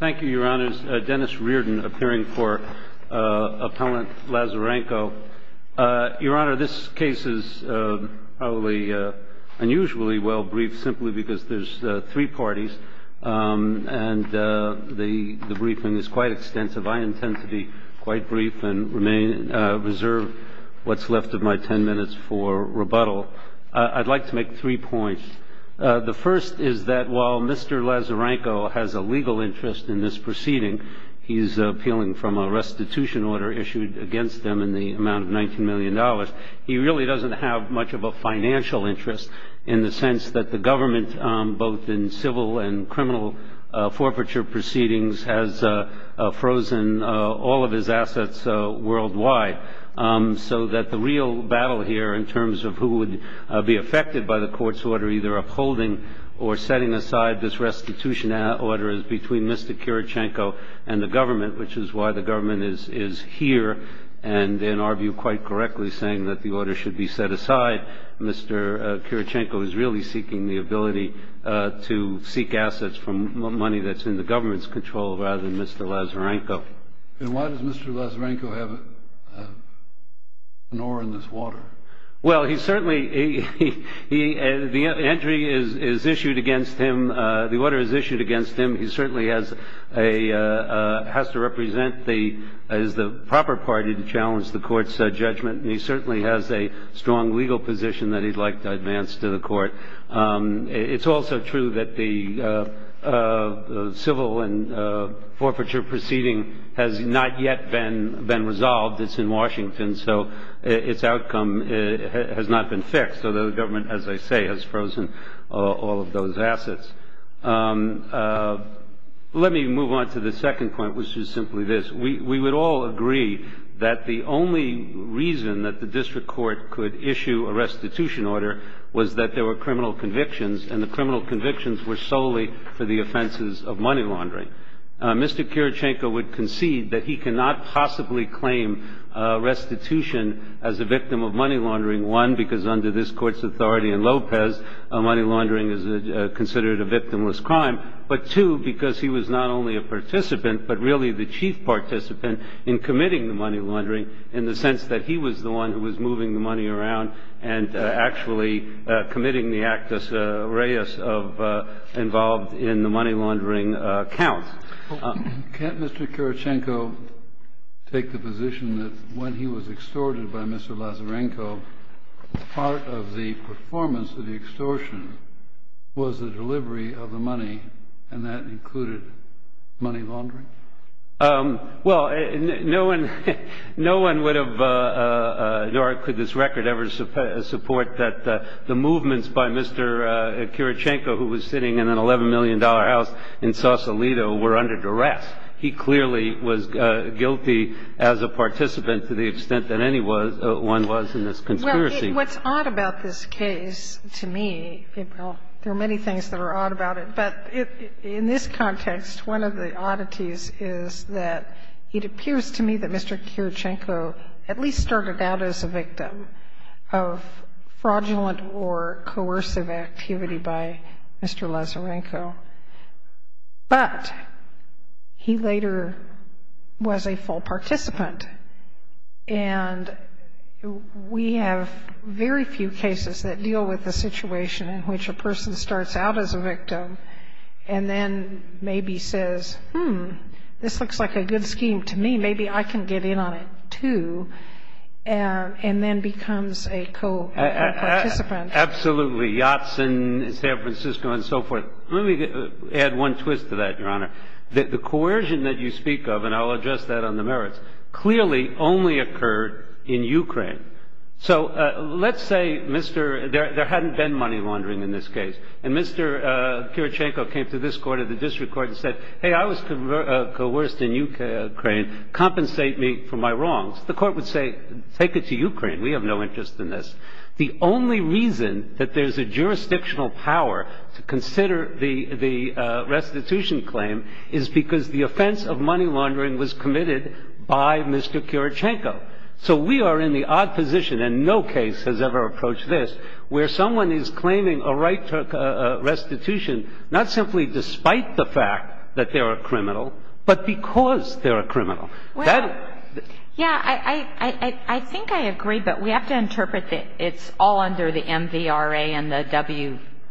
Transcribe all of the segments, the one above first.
Thank you, Your Honors. Dennis Reardon, appearing for Appellant Lazarenko. Your Honor, this case is probably unusually well briefed simply because there's three parties, and the briefing is quite extensive. I intend to be quite brief and reserve what's left of my ten minutes for rebuttal. I'd like to make three points. The first is that while Mr. Lazarenko has a legal interest in this proceeding, he's appealing from a restitution order issued against him in the amount of $19 million, he really doesn't have much of a financial interest in the sense that the government, both in civil and criminal forfeiture proceedings, has frozen all of his assets worldwide. So that the real battle here in terms of who would be affected by the court's order either upholding or setting aside this restitution order is between Mr. Kirichenko and the government, which is why the government is here and in our view quite correctly saying that the order should be set aside. Mr. Kirichenko is really seeking the ability to seek assets from money that's in the government's control rather than Mr. Lazarenko. And why does Mr. Lazarenko have an oar in this water? Well, he certainly – the entry is issued against him. The order is issued against him. He certainly has to represent the – is the proper party to challenge the court's judgment, and he certainly has a strong legal position that he'd like to advance to the court. It's also true that the civil and forfeiture proceeding has not yet been resolved. It's in Washington, so its outcome has not been fixed. So the government, as I say, has frozen all of those assets. Let me move on to the second point, which is simply this. We would all agree that the only reason that the district court could issue a restitution order was that there were criminal convictions, and the criminal convictions were solely for the offenses of money laundering. Mr. Kirichenko would concede that he cannot possibly claim restitution as a victim of money laundering, one, because under this court's authority in Lopez, money laundering is considered a victimless crime, but two, because he was not only a participant but really the chief participant in committing the money laundering in the sense that he was the one who was moving the money around and actually committing the actus reus of involved in the money laundering count. Can't Mr. Kirichenko take the position that when he was extorted by Mr. Lazarenko, part of the performance of the extortion was the delivery of the money, and that included money laundering? Well, no one would have, nor could this record ever support that the movements by Mr. Kirichenko, who was sitting in an $11 million house in Sausalito, were under duress. He clearly was guilty as a participant to the extent that anyone was in this conspiracy. Well, what's odd about this case to me, there are many things that are odd about it, but in this context, one of the oddities is that it appears to me that Mr. Kirichenko at least started out as a victim of fraudulent or coercive activity by Mr. Lazarenko, but he later was a full participant. And we have very few cases that deal with the situation in which a person starts out as a victim and then maybe says, hmm, this looks like a good scheme to me. Maybe I can get in on it, too, and then becomes a co-participant. Absolutely. Yachts in San Francisco and so forth. Let me add one twist to that, Your Honor. The coercion that you speak of, and I'll address that on the merits, clearly only occurred in Ukraine. So let's say there hadn't been money laundering in this case, and Mr. Kirichenko came to this court or the district court and said, hey, I was coerced in Ukraine. Compensate me for my wrongs. The court would say, take it to Ukraine. We have no interest in this. The only reason that there's a jurisdictional power to consider the restitution claim is because the offense of money laundering was committed by Mr. Kirichenko. So we are in the odd position, and no case has ever approached this, where someone is claiming a right to restitution not simply despite the fact that they're a criminal, but because they're a criminal. Well, yeah, I think I agree, but we have to interpret that it's all under the MVRA and the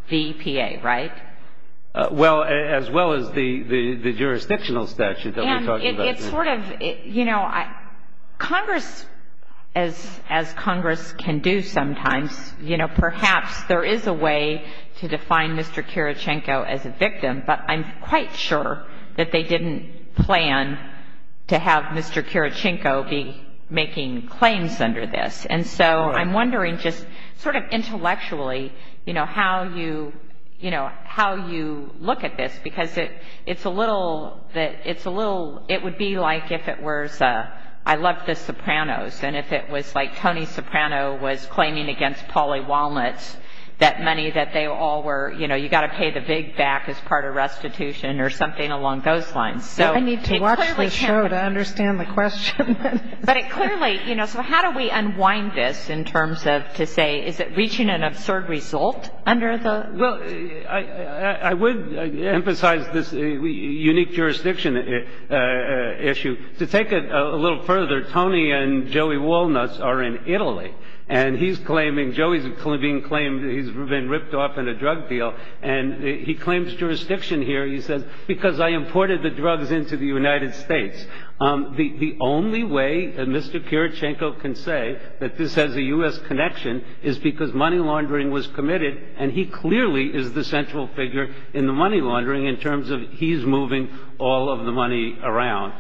WVPA, right? Well, as well as the jurisdictional statute that we're talking about here. And it's sort of, you know, Congress, as Congress can do sometimes, you know, perhaps there is a way to define Mr. Kirichenko as a victim, but I'm quite sure that they didn't plan to have Mr. Kirichenko be making claims under this. And so I'm wondering just sort of intellectually, you know, how you, you know, how you look at this, because it's a little, it's a little, it would be like if it was, I love the Sopranos, and if it was like Tony Soprano was claiming against Pauly Walnut that money that they all were, you know, they were all going to pay the big back as part of restitution or something along those lines. So it clearly can't be. I need to watch this show to understand the question. But it clearly, you know, so how do we unwind this in terms of to say is it reaching an absurd result under the? Well, I would emphasize this unique jurisdiction issue. To take it a little further, Tony and Joey Walnuts are in Italy, and he's claiming, Joey's being claimed he's been ripped off in a drug deal, and he claims jurisdiction here, he says, because I imported the drugs into the United States. The only way that Mr. Kirichenko can say that this has a U.S. connection is because money laundering was committed, and he clearly is the central figure in the money laundering in terms of he's moving all of the money around.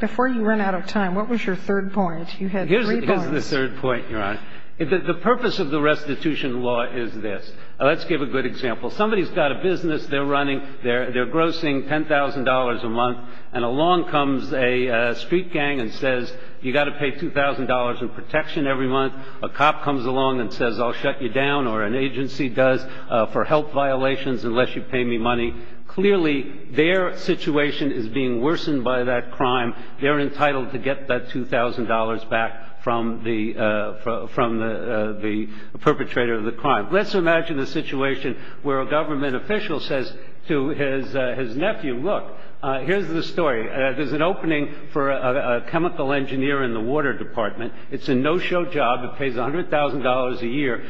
Before you run out of time, what was your third point? You had three points. Here's the third point, Your Honor. The purpose of the restitution law is this. Let's give a good example. Somebody's got a business they're running. They're grossing $10,000 a month, and along comes a street gang and says you've got to pay $2,000 in protection every month. A cop comes along and says I'll shut you down, or an agency does, for health violations unless you pay me money. Clearly, their situation is being worsened by that crime. They're entitled to get that $2,000 back from the perpetrator of the crime. Let's imagine a situation where a government official says to his nephew, look, here's the story. There's an opening for a chemical engineer in the water department. It's a no-show job. It pays $100,000 a year.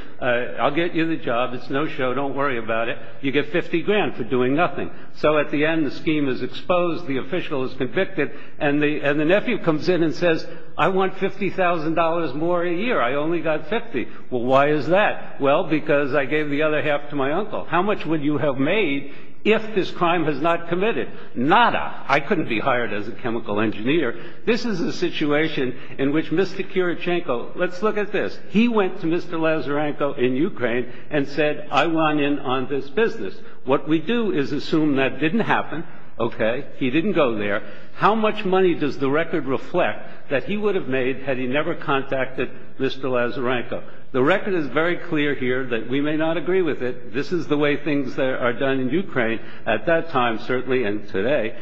I'll get you the job. It's no show. Don't worry about it. You get 50 grand for doing nothing. So at the end, the scheme is exposed, the official is convicted, and the nephew comes in and says I want $50,000 more a year. I only got 50. Well, why is that? Well, because I gave the other half to my uncle. How much would you have made if this crime was not committed? Nada. I couldn't be hired as a chemical engineer. This is a situation in which Mr. Kirichenko, let's look at this. He went to Mr. Lazarenko in Ukraine and said I want in on this business. What we do is assume that didn't happen. Okay. He didn't go there. How much money does the record reflect that he would have made had he never contacted Mr. Lazarenko? The record is very clear here that we may not agree with it. This is the way things are done in Ukraine at that time certainly and today.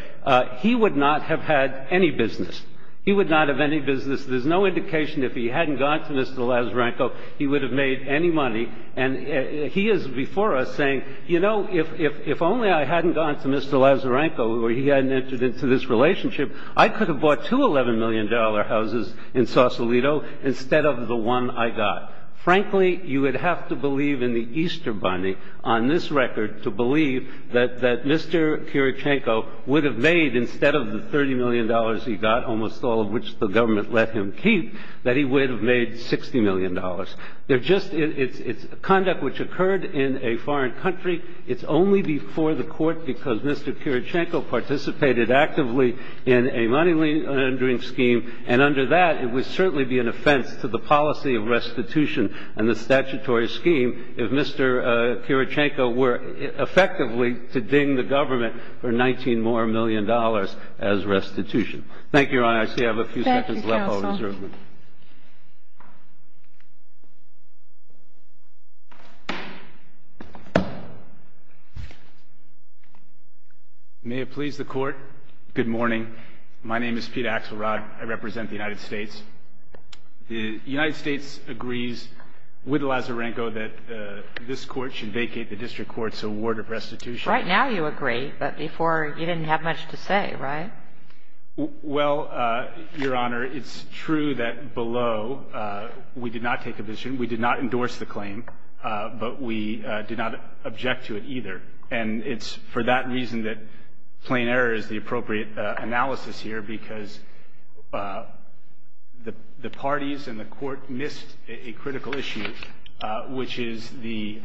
He would not have had any business. He would not have any business. There's no indication if he hadn't gone to Mr. Lazarenko he would have made any money. And he is before us saying, you know, if only I hadn't gone to Mr. Lazarenko or he hadn't entered into this relationship, I could have bought two $11 million houses in Sausalito instead of the one I got. Frankly, you would have to believe in the Easter Bunny on this record to believe that Mr. Kirichenko would have made, instead of the $30 million he got, almost all of which the government let him keep, that he would have made $60 million. It's conduct which occurred in a foreign country. It's only before the Court because Mr. Kirichenko participated actively in a money laundering scheme, and under that it would certainly be an offense to the policy of restitution and the statutory scheme if Mr. Kirichenko were effectively to ding the government for $19 million more as restitution. Thank you, Your Honor. I see I have a few seconds left. May it please the Court. Good morning. My name is Peter Axelrod. I represent the United States. The United States agrees with Lazarenko that this Court should vacate the District Court's award of restitution. Right now you agree, but before you didn't have much to say, right? Well, Your Honor, it's true that below we did not take a position, we did not endorse the claim, but we did not object to it either. And it's for that reason that plain error is the appropriate analysis here, because the parties and the Court missed a critical issue, which is the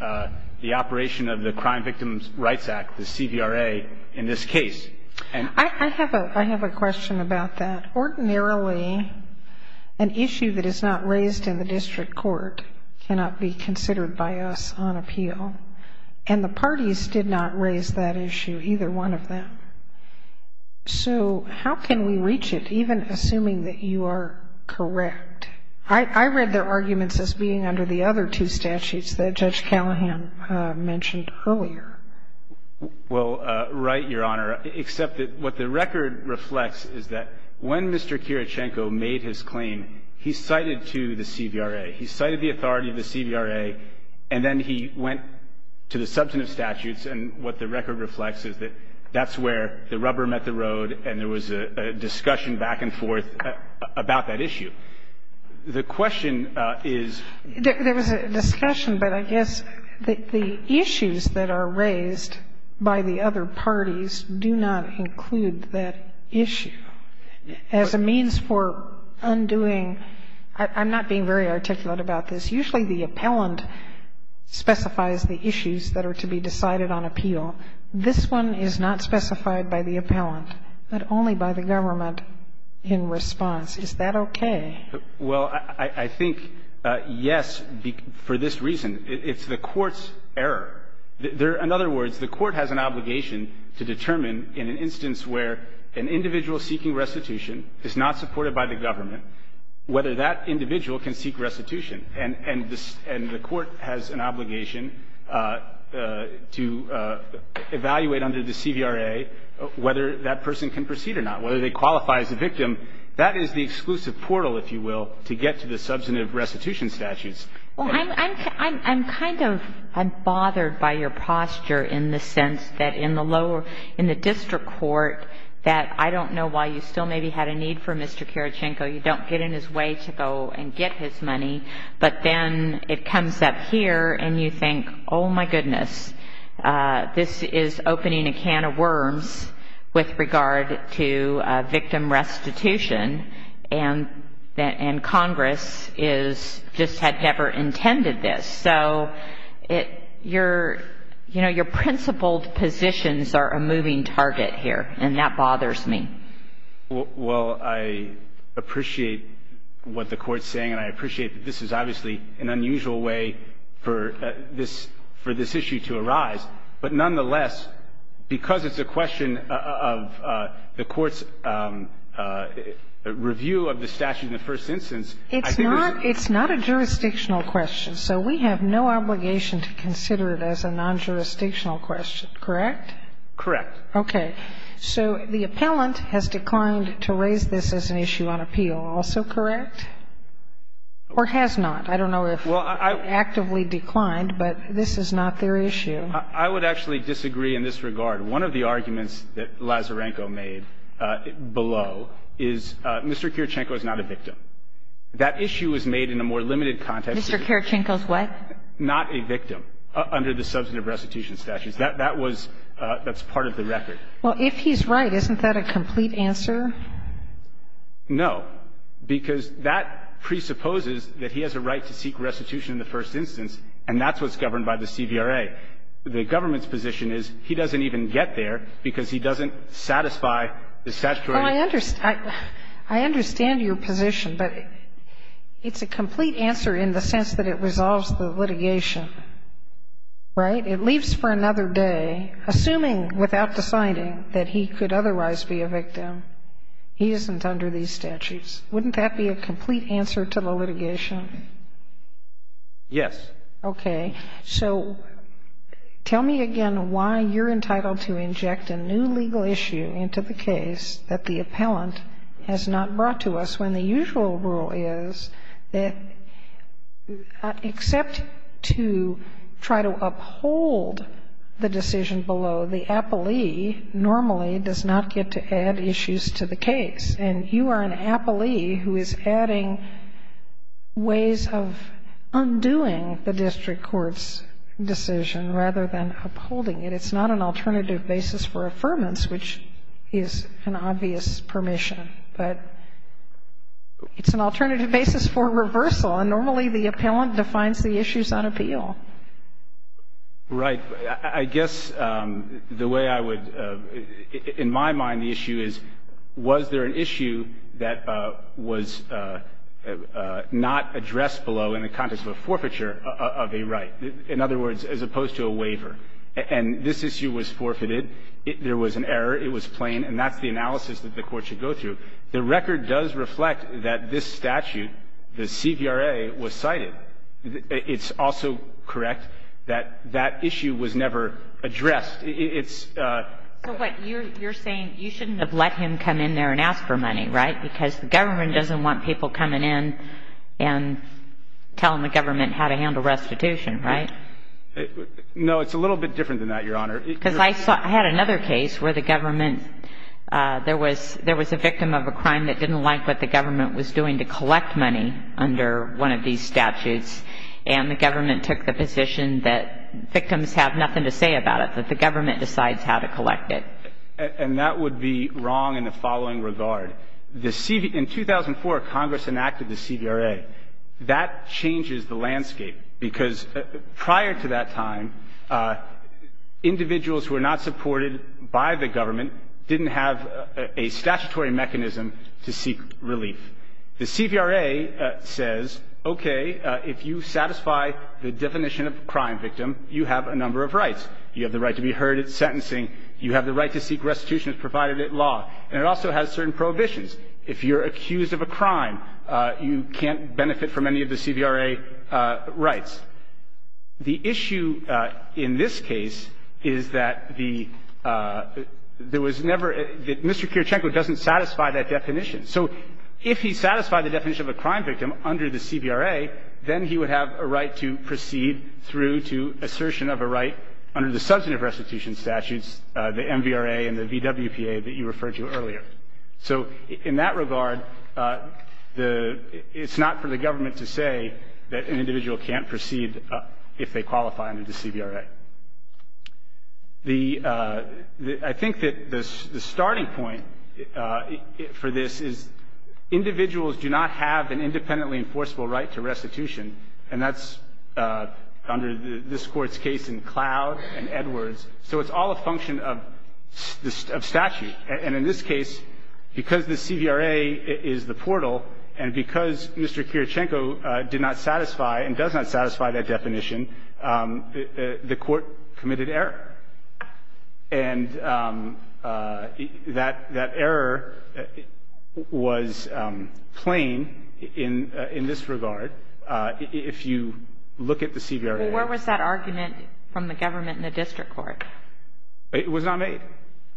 operation of the Crime Victims' Rights Act, the CVRA, in this case. I have a question about that. Ordinarily, an issue that is not raised in the District Court cannot be considered by us on appeal, and the parties did not raise that issue, either one of them. So how can we reach it, even assuming that you are correct? I read their arguments as being under the other two statutes that Judge Callahan mentioned earlier. Well, right, Your Honor, except that what the record reflects is that when Mr. Kirichenko made his claim, he cited to the CVRA. He cited the authority of the CVRA, and then he went to the substantive statutes, and what the record reflects is that that's where the rubber met the road and there was a discussion back and forth about that issue. The question is — There was a discussion, but I guess the issues that are raised by the other parties do not include that issue. As a means for undoing — I'm not being very articulate about this. Usually the appellant specifies the issues that are to be decided on appeal. This one is not specified by the appellant, but only by the government in response. Is that okay? Well, I think, yes, for this reason. It's the court's error. In other words, the court has an obligation to determine in an instance where an individual seeking restitution is not supported by the government whether that individual can seek restitution, and the court has an obligation to evaluate under the CVRA whether that person can proceed or not, whether they qualify as a victim. That is the exclusive portal, if you will, to get to the substantive restitution statutes. Well, I'm kind of — I'm bothered by your posture in the sense that in the lower — in the district court that I don't know why you still maybe had a need for Mr. Karachenko. You don't get in his way to go and get his money, but then it comes up here and you think, oh, my goodness, this is opening a can of worms with regard to victim restitution. And Congress is — just had never intended this. So it — your — you know, your principled positions are a moving target here, and that bothers me. Well, I appreciate what the Court's saying, and I appreciate that this is obviously an unusual way for this — for this issue to arise. But nonetheless, because it's a question of the Court's review of the statute in the first instance, I think it's — It's not — it's not a jurisdictional question. So we have no obligation to consider it as a non-jurisdictional question, correct? Correct. Okay. So the appellant has declined to raise this as an issue on appeal. Also correct? Or has not? I don't know if it actively declined, but this is not their issue. I would actually disagree in this regard. One of the arguments that Lazarenko made below is Mr. Kirchenko is not a victim. That issue was made in a more limited context. Mr. Kirchenko is what? Not a victim under the substantive restitution statutes. That was — that's part of the record. Well, if he's right, isn't that a complete answer? No, because that presupposes that he has a right to seek restitution in the first instance, and that's what's governed by the CVRA. The government's position is he doesn't even get there because he doesn't satisfy the statutory — Well, I understand — I understand your position, but it's a complete answer in the sense that it resolves the litigation, right? It leaves for another day. Assuming, without deciding, that he could otherwise be a victim, he isn't under these statutes. Wouldn't that be a complete answer to the litigation? Yes. Okay. So tell me again why you're entitled to inject a new legal issue into the case that the appellant has not brought to us, when the usual rule is that except to try to uphold the decision below, the appellee normally does not get to add issues to the case. And you are an appellee who is adding ways of undoing the district court's decision rather than upholding it. It's not an alternative basis for affirmance, which is an obvious permission. But it's an alternative basis for reversal, and normally the appellant defines the issues on appeal. Right. I guess the way I would – in my mind, the issue is, was there an issue that was not addressed below in the context of a forfeiture of a right? In other words, as opposed to a waiver. And this issue was forfeited. There was an error. It was plain. And that's the analysis that the Court should go through. The record does reflect that this statute, the CVRA, was cited. It's also correct that that issue was never addressed. It's – So what you're saying, you shouldn't have let him come in there and ask for money, right? Because the government doesn't want people coming in and telling the government how to handle restitution, right? No. It's a little bit different than that, Your Honor. Because I had another case where the government – there was a victim of a crime that didn't like what the government was doing to collect money under one of these statutes, and the government took the position that victims have nothing to say about it, that the government decides how to collect it. And that would be wrong in the following regard. The – in 2004, Congress enacted the CVRA. That changes the landscape, because prior to that time, individuals who were not The CVRA says, okay, if you satisfy the definition of a crime victim, you have a number of rights. You have the right to be heard at sentencing. You have the right to seek restitution as provided at law. And it also has certain prohibitions. If you're accused of a crime, you can't benefit from any of the CVRA rights. The issue in this case is that the – there was never – Mr. Kirchenko doesn't satisfy that definition. So if he satisfied the definition of a crime victim under the CVRA, then he would have a right to proceed through to assertion of a right under the substantive restitution statutes, the MVRA and the VWPA that you referred to earlier. So in that regard, the – it's not for the government to say that an individual can't proceed if they qualify under the CVRA. The – I think that the starting point for this is individuals do not have an independently enforceable right to restitution. And that's under this Court's case in Cloud and Edwards. So it's all a function of statute. And in this case, because the CVRA is the portal, and because Mr. Kirchenko did not the Court committed error. And that error was plain in this regard if you look at the CVRA. Well, where was that argument from the government and the district court? It was not made.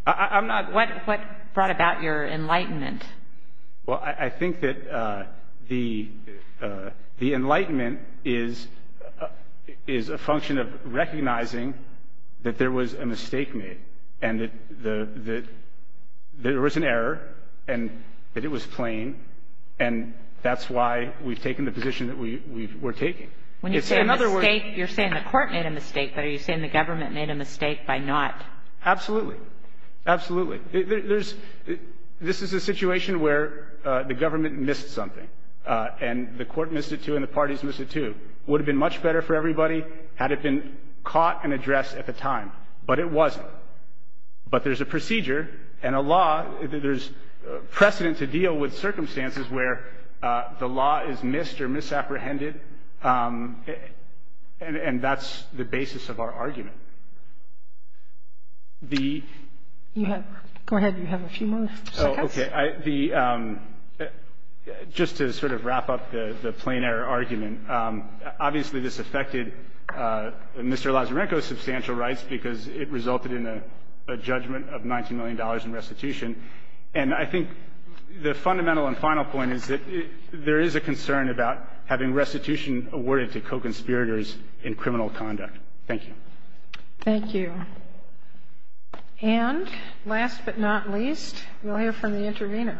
I'm not – What brought about your enlightenment? Well, I think that the enlightenment is a function of recognizing that there was a mistake made and that there was an error and that it was plain. And that's why we've taken the position that we're taking. When you say a mistake, you're saying the Court made a mistake. But are you saying the government made a mistake by not? Absolutely. Absolutely. I mean, there's – this is a situation where the government missed something and the Court missed it, too, and the parties missed it, too. It would have been much better for everybody had it been caught and addressed at the time, but it wasn't. But there's a procedure and a law – there's precedent to deal with circumstances where the law is missed or misapprehended, and that's the basis of our argument. The – You have – go ahead. You have a few more seconds. Oh, okay. The – just to sort of wrap up the plain-error argument, obviously, this affected Mr. Lazarenko's substantial rights because it resulted in a judgment of $19 million in restitution. And I think the fundamental and final point is that there is a concern about having restitution awarded to co-conspirators in criminal conduct. Thank you. Thank you. And last but not least, we'll hear from the intervener.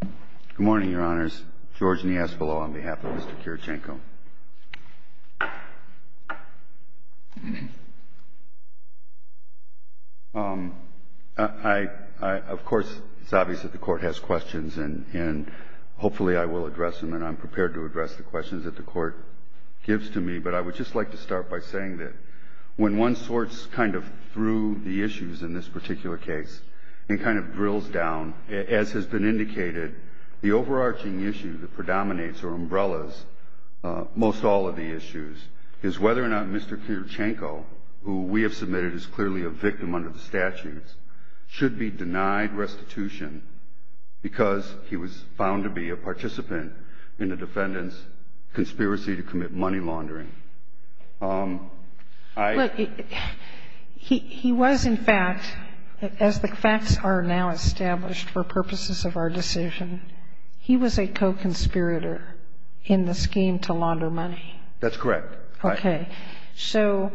Good morning, Your Honors. George Niaspolo on behalf of Mr. Kirichenko. I – of course, it's obvious that the Court has questions, and hopefully I will address them, and I'm prepared to address the questions that the Court gives to me. But I would just like to start by saying that when one sorts kind of through the issues in this particular case and kind of drills down, as has been indicated, the overarching issue that predominates or umbrellas most all of the issues is whether or not Mr. Kirichenko, who we have submitted as clearly a victim under the statutes, should be denied restitution because he was found to be a participant in the defendant's conspiracy to commit money laundering. I – But he was, in fact, as the facts are now established for purposes of our decision, he was a co-conspirator in the scheme to launder money. That's correct. Okay. So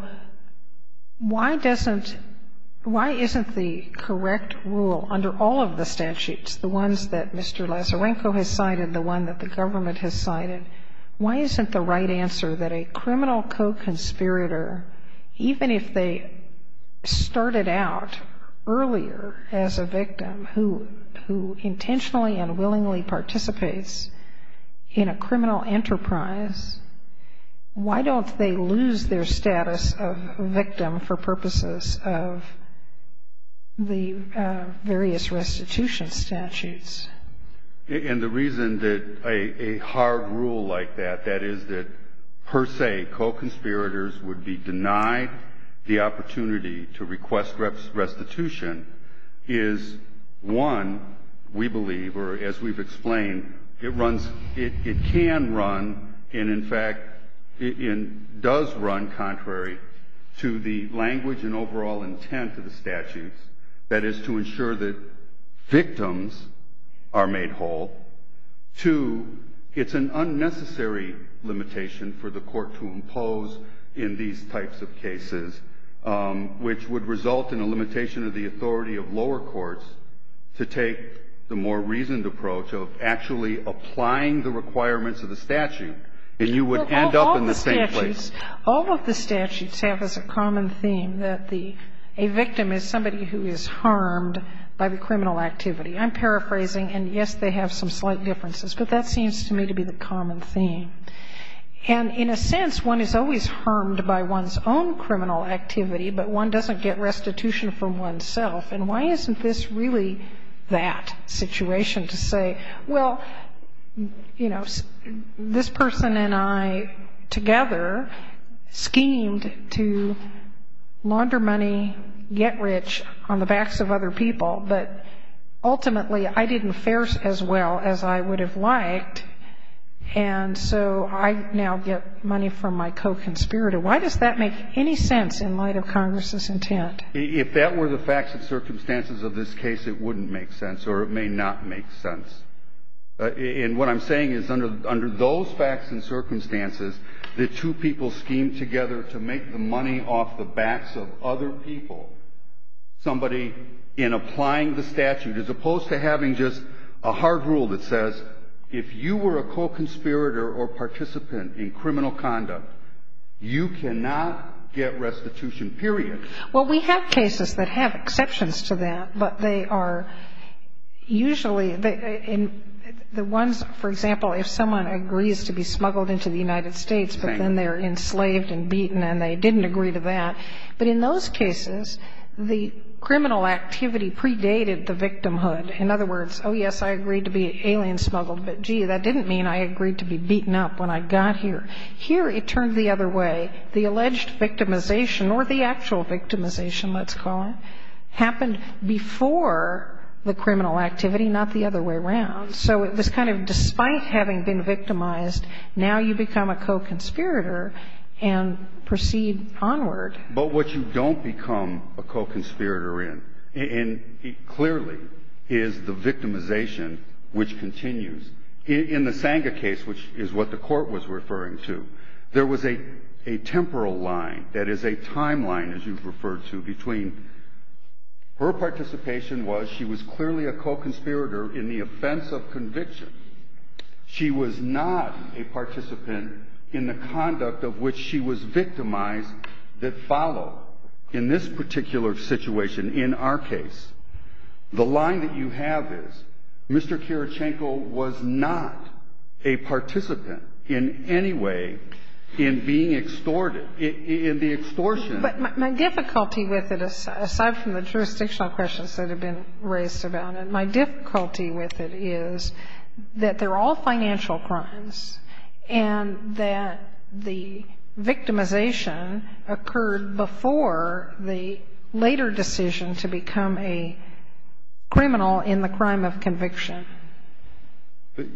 why doesn't – why isn't the correct rule under all of the statutes, the ones that Mr. Lazarenko has cited, the one that the government has cited, why isn't the right answer that a criminal co-conspirator, even if they started out earlier as a victim who intentionally and willingly participates in a criminal enterprise, why don't they lose their status of victim for purposes of the various restitution statutes? And the reason that a hard rule like that, that is that per se co-conspirators would be denied the opportunity to request restitution is, one, we believe, or as we've explained, it runs – it can run and, in fact, it does run contrary to the language and overall intent of the statutes, that is to ensure that victims are made whole. Two, it's an unnecessary limitation for the court to impose in these types of cases, which would result in a limitation of the authority of lower courts to take the more reasoned approach of actually applying the requirements of the statute, and you would end up in the same place. All of the statutes have as a common theme that the – a victim is somebody who is harmed by the criminal activity. I'm paraphrasing, and yes, they have some slight differences, but that seems to me to be the common theme. And in a sense, one is always harmed by one's own criminal activity, but one doesn't get restitution from oneself. And why isn't this really that situation to say, well, you know, this person and I as well as I would have liked, and so I now get money from my co-conspirator? Why does that make any sense in light of Congress's intent? If that were the facts and circumstances of this case, it wouldn't make sense, or it may not make sense. And what I'm saying is under those facts and circumstances, the two people schemed together to make the money off the backs of other people, somebody in applying the hard rule that says if you were a co-conspirator or participant in criminal conduct, you cannot get restitution, period. Well, we have cases that have exceptions to that, but they are usually the ones, for example, if someone agrees to be smuggled into the United States, but then they're enslaved and beaten and they didn't agree to that. But in those cases, the criminal activity predated the victimhood. In other words, oh, yes, I agreed to be alien smuggled, but, gee, that didn't mean I agreed to be beaten up when I got here. Here it turned the other way. The alleged victimization or the actual victimization, let's call it, happened before the criminal activity, not the other way around. So it was kind of despite having been victimized, now you become a co-conspirator and proceed onward. But what you don't become a co-conspirator in, and it clearly is the victimization which continues. In the Sanga case, which is what the court was referring to, there was a temporal line, that is, a timeline, as you've referred to, between her participation was she was clearly a co-conspirator in the offense of conviction. She was not a participant in the conduct of which she was victimized that followed in this particular situation in our case. The line that you have is Mr. Karachenko was not a participant in any way in being extorted, in the extortion. But my difficulty with it, aside from the jurisdictional questions that have been raised about it, my difficulty with it is that they're all financial crimes and that the victimization occurred before the later decision to become a criminal in the crime of conviction.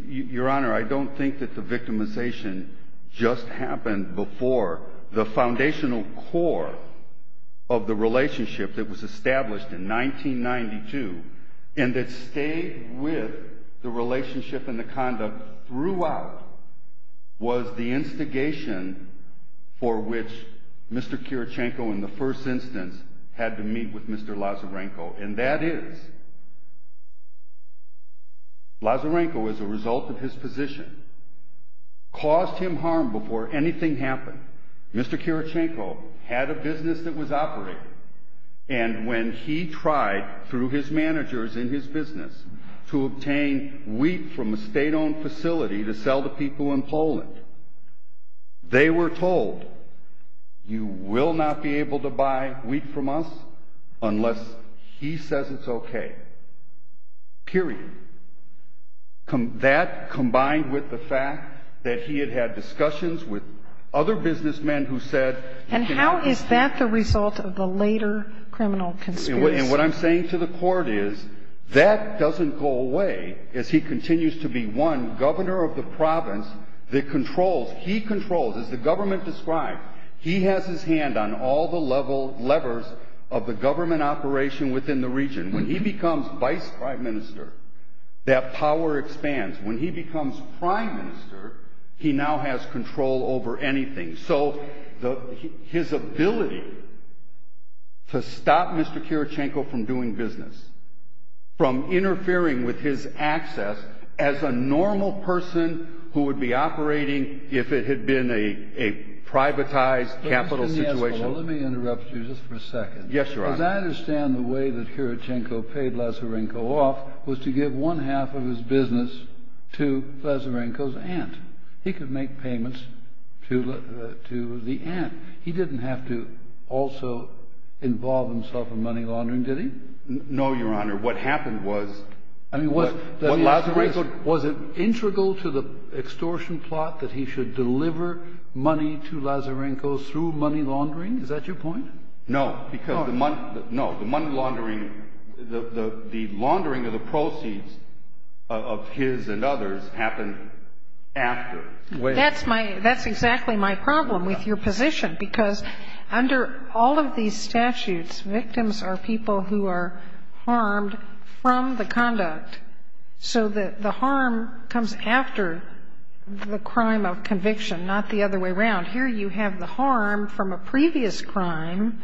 Your Honor, I don't think that the victimization just happened before the foundational core of the relationship that was established in 1992 and that stayed with the Mr. Karachenko in the first instance had to meet with Mr. Lazarenko. And that is Lazarenko, as a result of his position, caused him harm before anything happened. Mr. Karachenko had a business that was operating, and when he tried, through his managers in his business, to obtain wheat from a state-owned facility to sell to them, they were told, you will not be able to buy wheat from us unless he says it's okay. Period. That, combined with the fact that he had had discussions with other businessmen who said... And how is that the result of the later criminal conspiracy? And what I'm saying to the Court is, that doesn't go away as he continues to be one governor of the province that controls, he controls, as the government describes, he has his hand on all the levers of the government operation within the region. When he becomes vice prime minister, that power expands. When he becomes prime minister, he now has control over anything. So his ability to stop Mr. Karachenko from doing business, from interfering with his access, as a normal person who would be operating if it had been a privatized capital situation... Let me interrupt you just for a second. Yes, Your Honor. Because I understand the way that Karachenko paid Lazarenko off was to give one half of his business to Lazarenko's aunt. He could make payments to the aunt. He didn't have to also involve himself in money laundering, did he? No, Your Honor. What happened was... Was it integral to the extortion plot that he should deliver money to Lazarenko through money laundering? Is that your point? No, because the money laundering, the laundering of the proceeds of his and others happened after. That's exactly my problem with your position, because under all of these statutes, victims are people who are harmed from the conduct. So the harm comes after the crime of conviction, not the other way around. Here you have the harm from a previous crime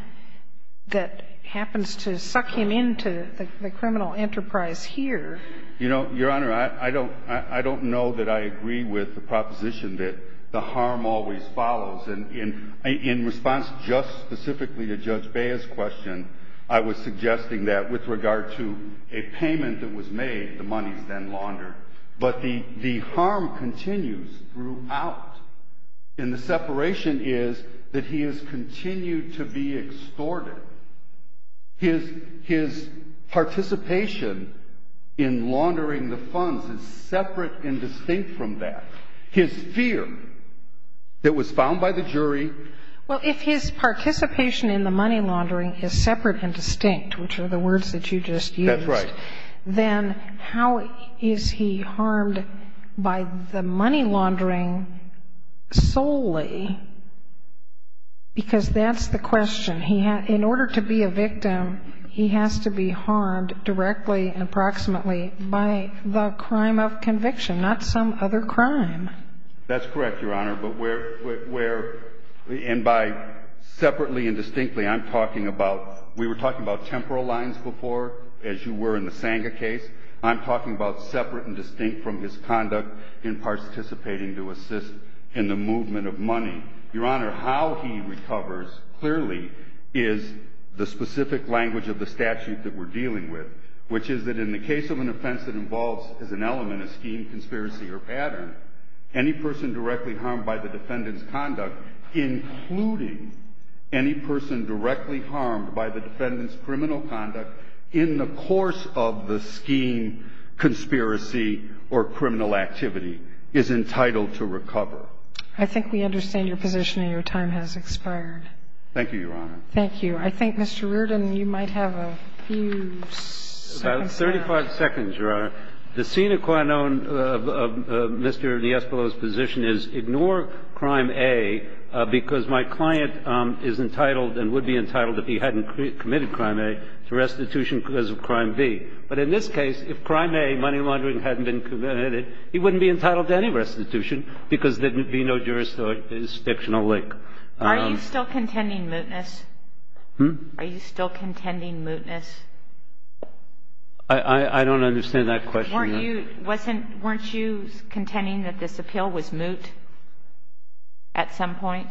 that happens to suck him into the criminal enterprise here. You know, Your Honor, I don't know that I agree with the proposition that the harm always follows. In response just specifically to Judge Bea's question, I was suggesting that with regard to a payment that was made, the money is then laundered. But the harm continues throughout. And the separation is that he has continued to be extorted. His participation in laundering the funds is separate and distinct from that. His fear that was found by the jury. Well, if his participation in the money laundering is separate and distinct, which are the words that you just used. That's right. Then how is he harmed by the money laundering solely? Because that's the question. In order to be a victim, he has to be harmed directly and approximately by the other crime. That's correct, Your Honor. But where, and by separately and distinctly, I'm talking about, we were talking about temporal lines before, as you were in the Sanga case. I'm talking about separate and distinct from his conduct in participating to assist in the movement of money. Your Honor, how he recovers clearly is the specific language of the statute that we're dealing with, which is that in the case of an offense that involves as an pattern, any person directly harmed by the defendant's conduct, including any person directly harmed by the defendant's criminal conduct in the course of the scheme, conspiracy, or criminal activity, is entitled to recover. I think we understand your position, and your time has expired. Thank you, Your Honor. Thank you. I think, Mr. Reardon, you might have a few seconds left. About 35 seconds, Your Honor. The sine qua non of Mr. Niespolow's position is ignore crime A because my client is entitled and would be entitled if he hadn't committed crime A to restitution because of crime B. But in this case, if crime A, money laundering, hadn't been committed, he wouldn't be entitled to any restitution because there would be no jurisdictional link. Are you still contending mootness? Hmm? Are you still contending mootness? I don't understand that question. Weren't you contending that this appeal was moot at some point?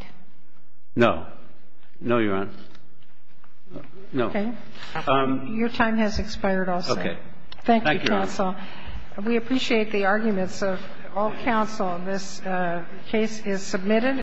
No. No, Your Honor. No. Okay. Your time has expired also. Okay. Thank you, Counsel. Thank you, Your Honor. We appreciate the arguments of all counsel. This case is submitted.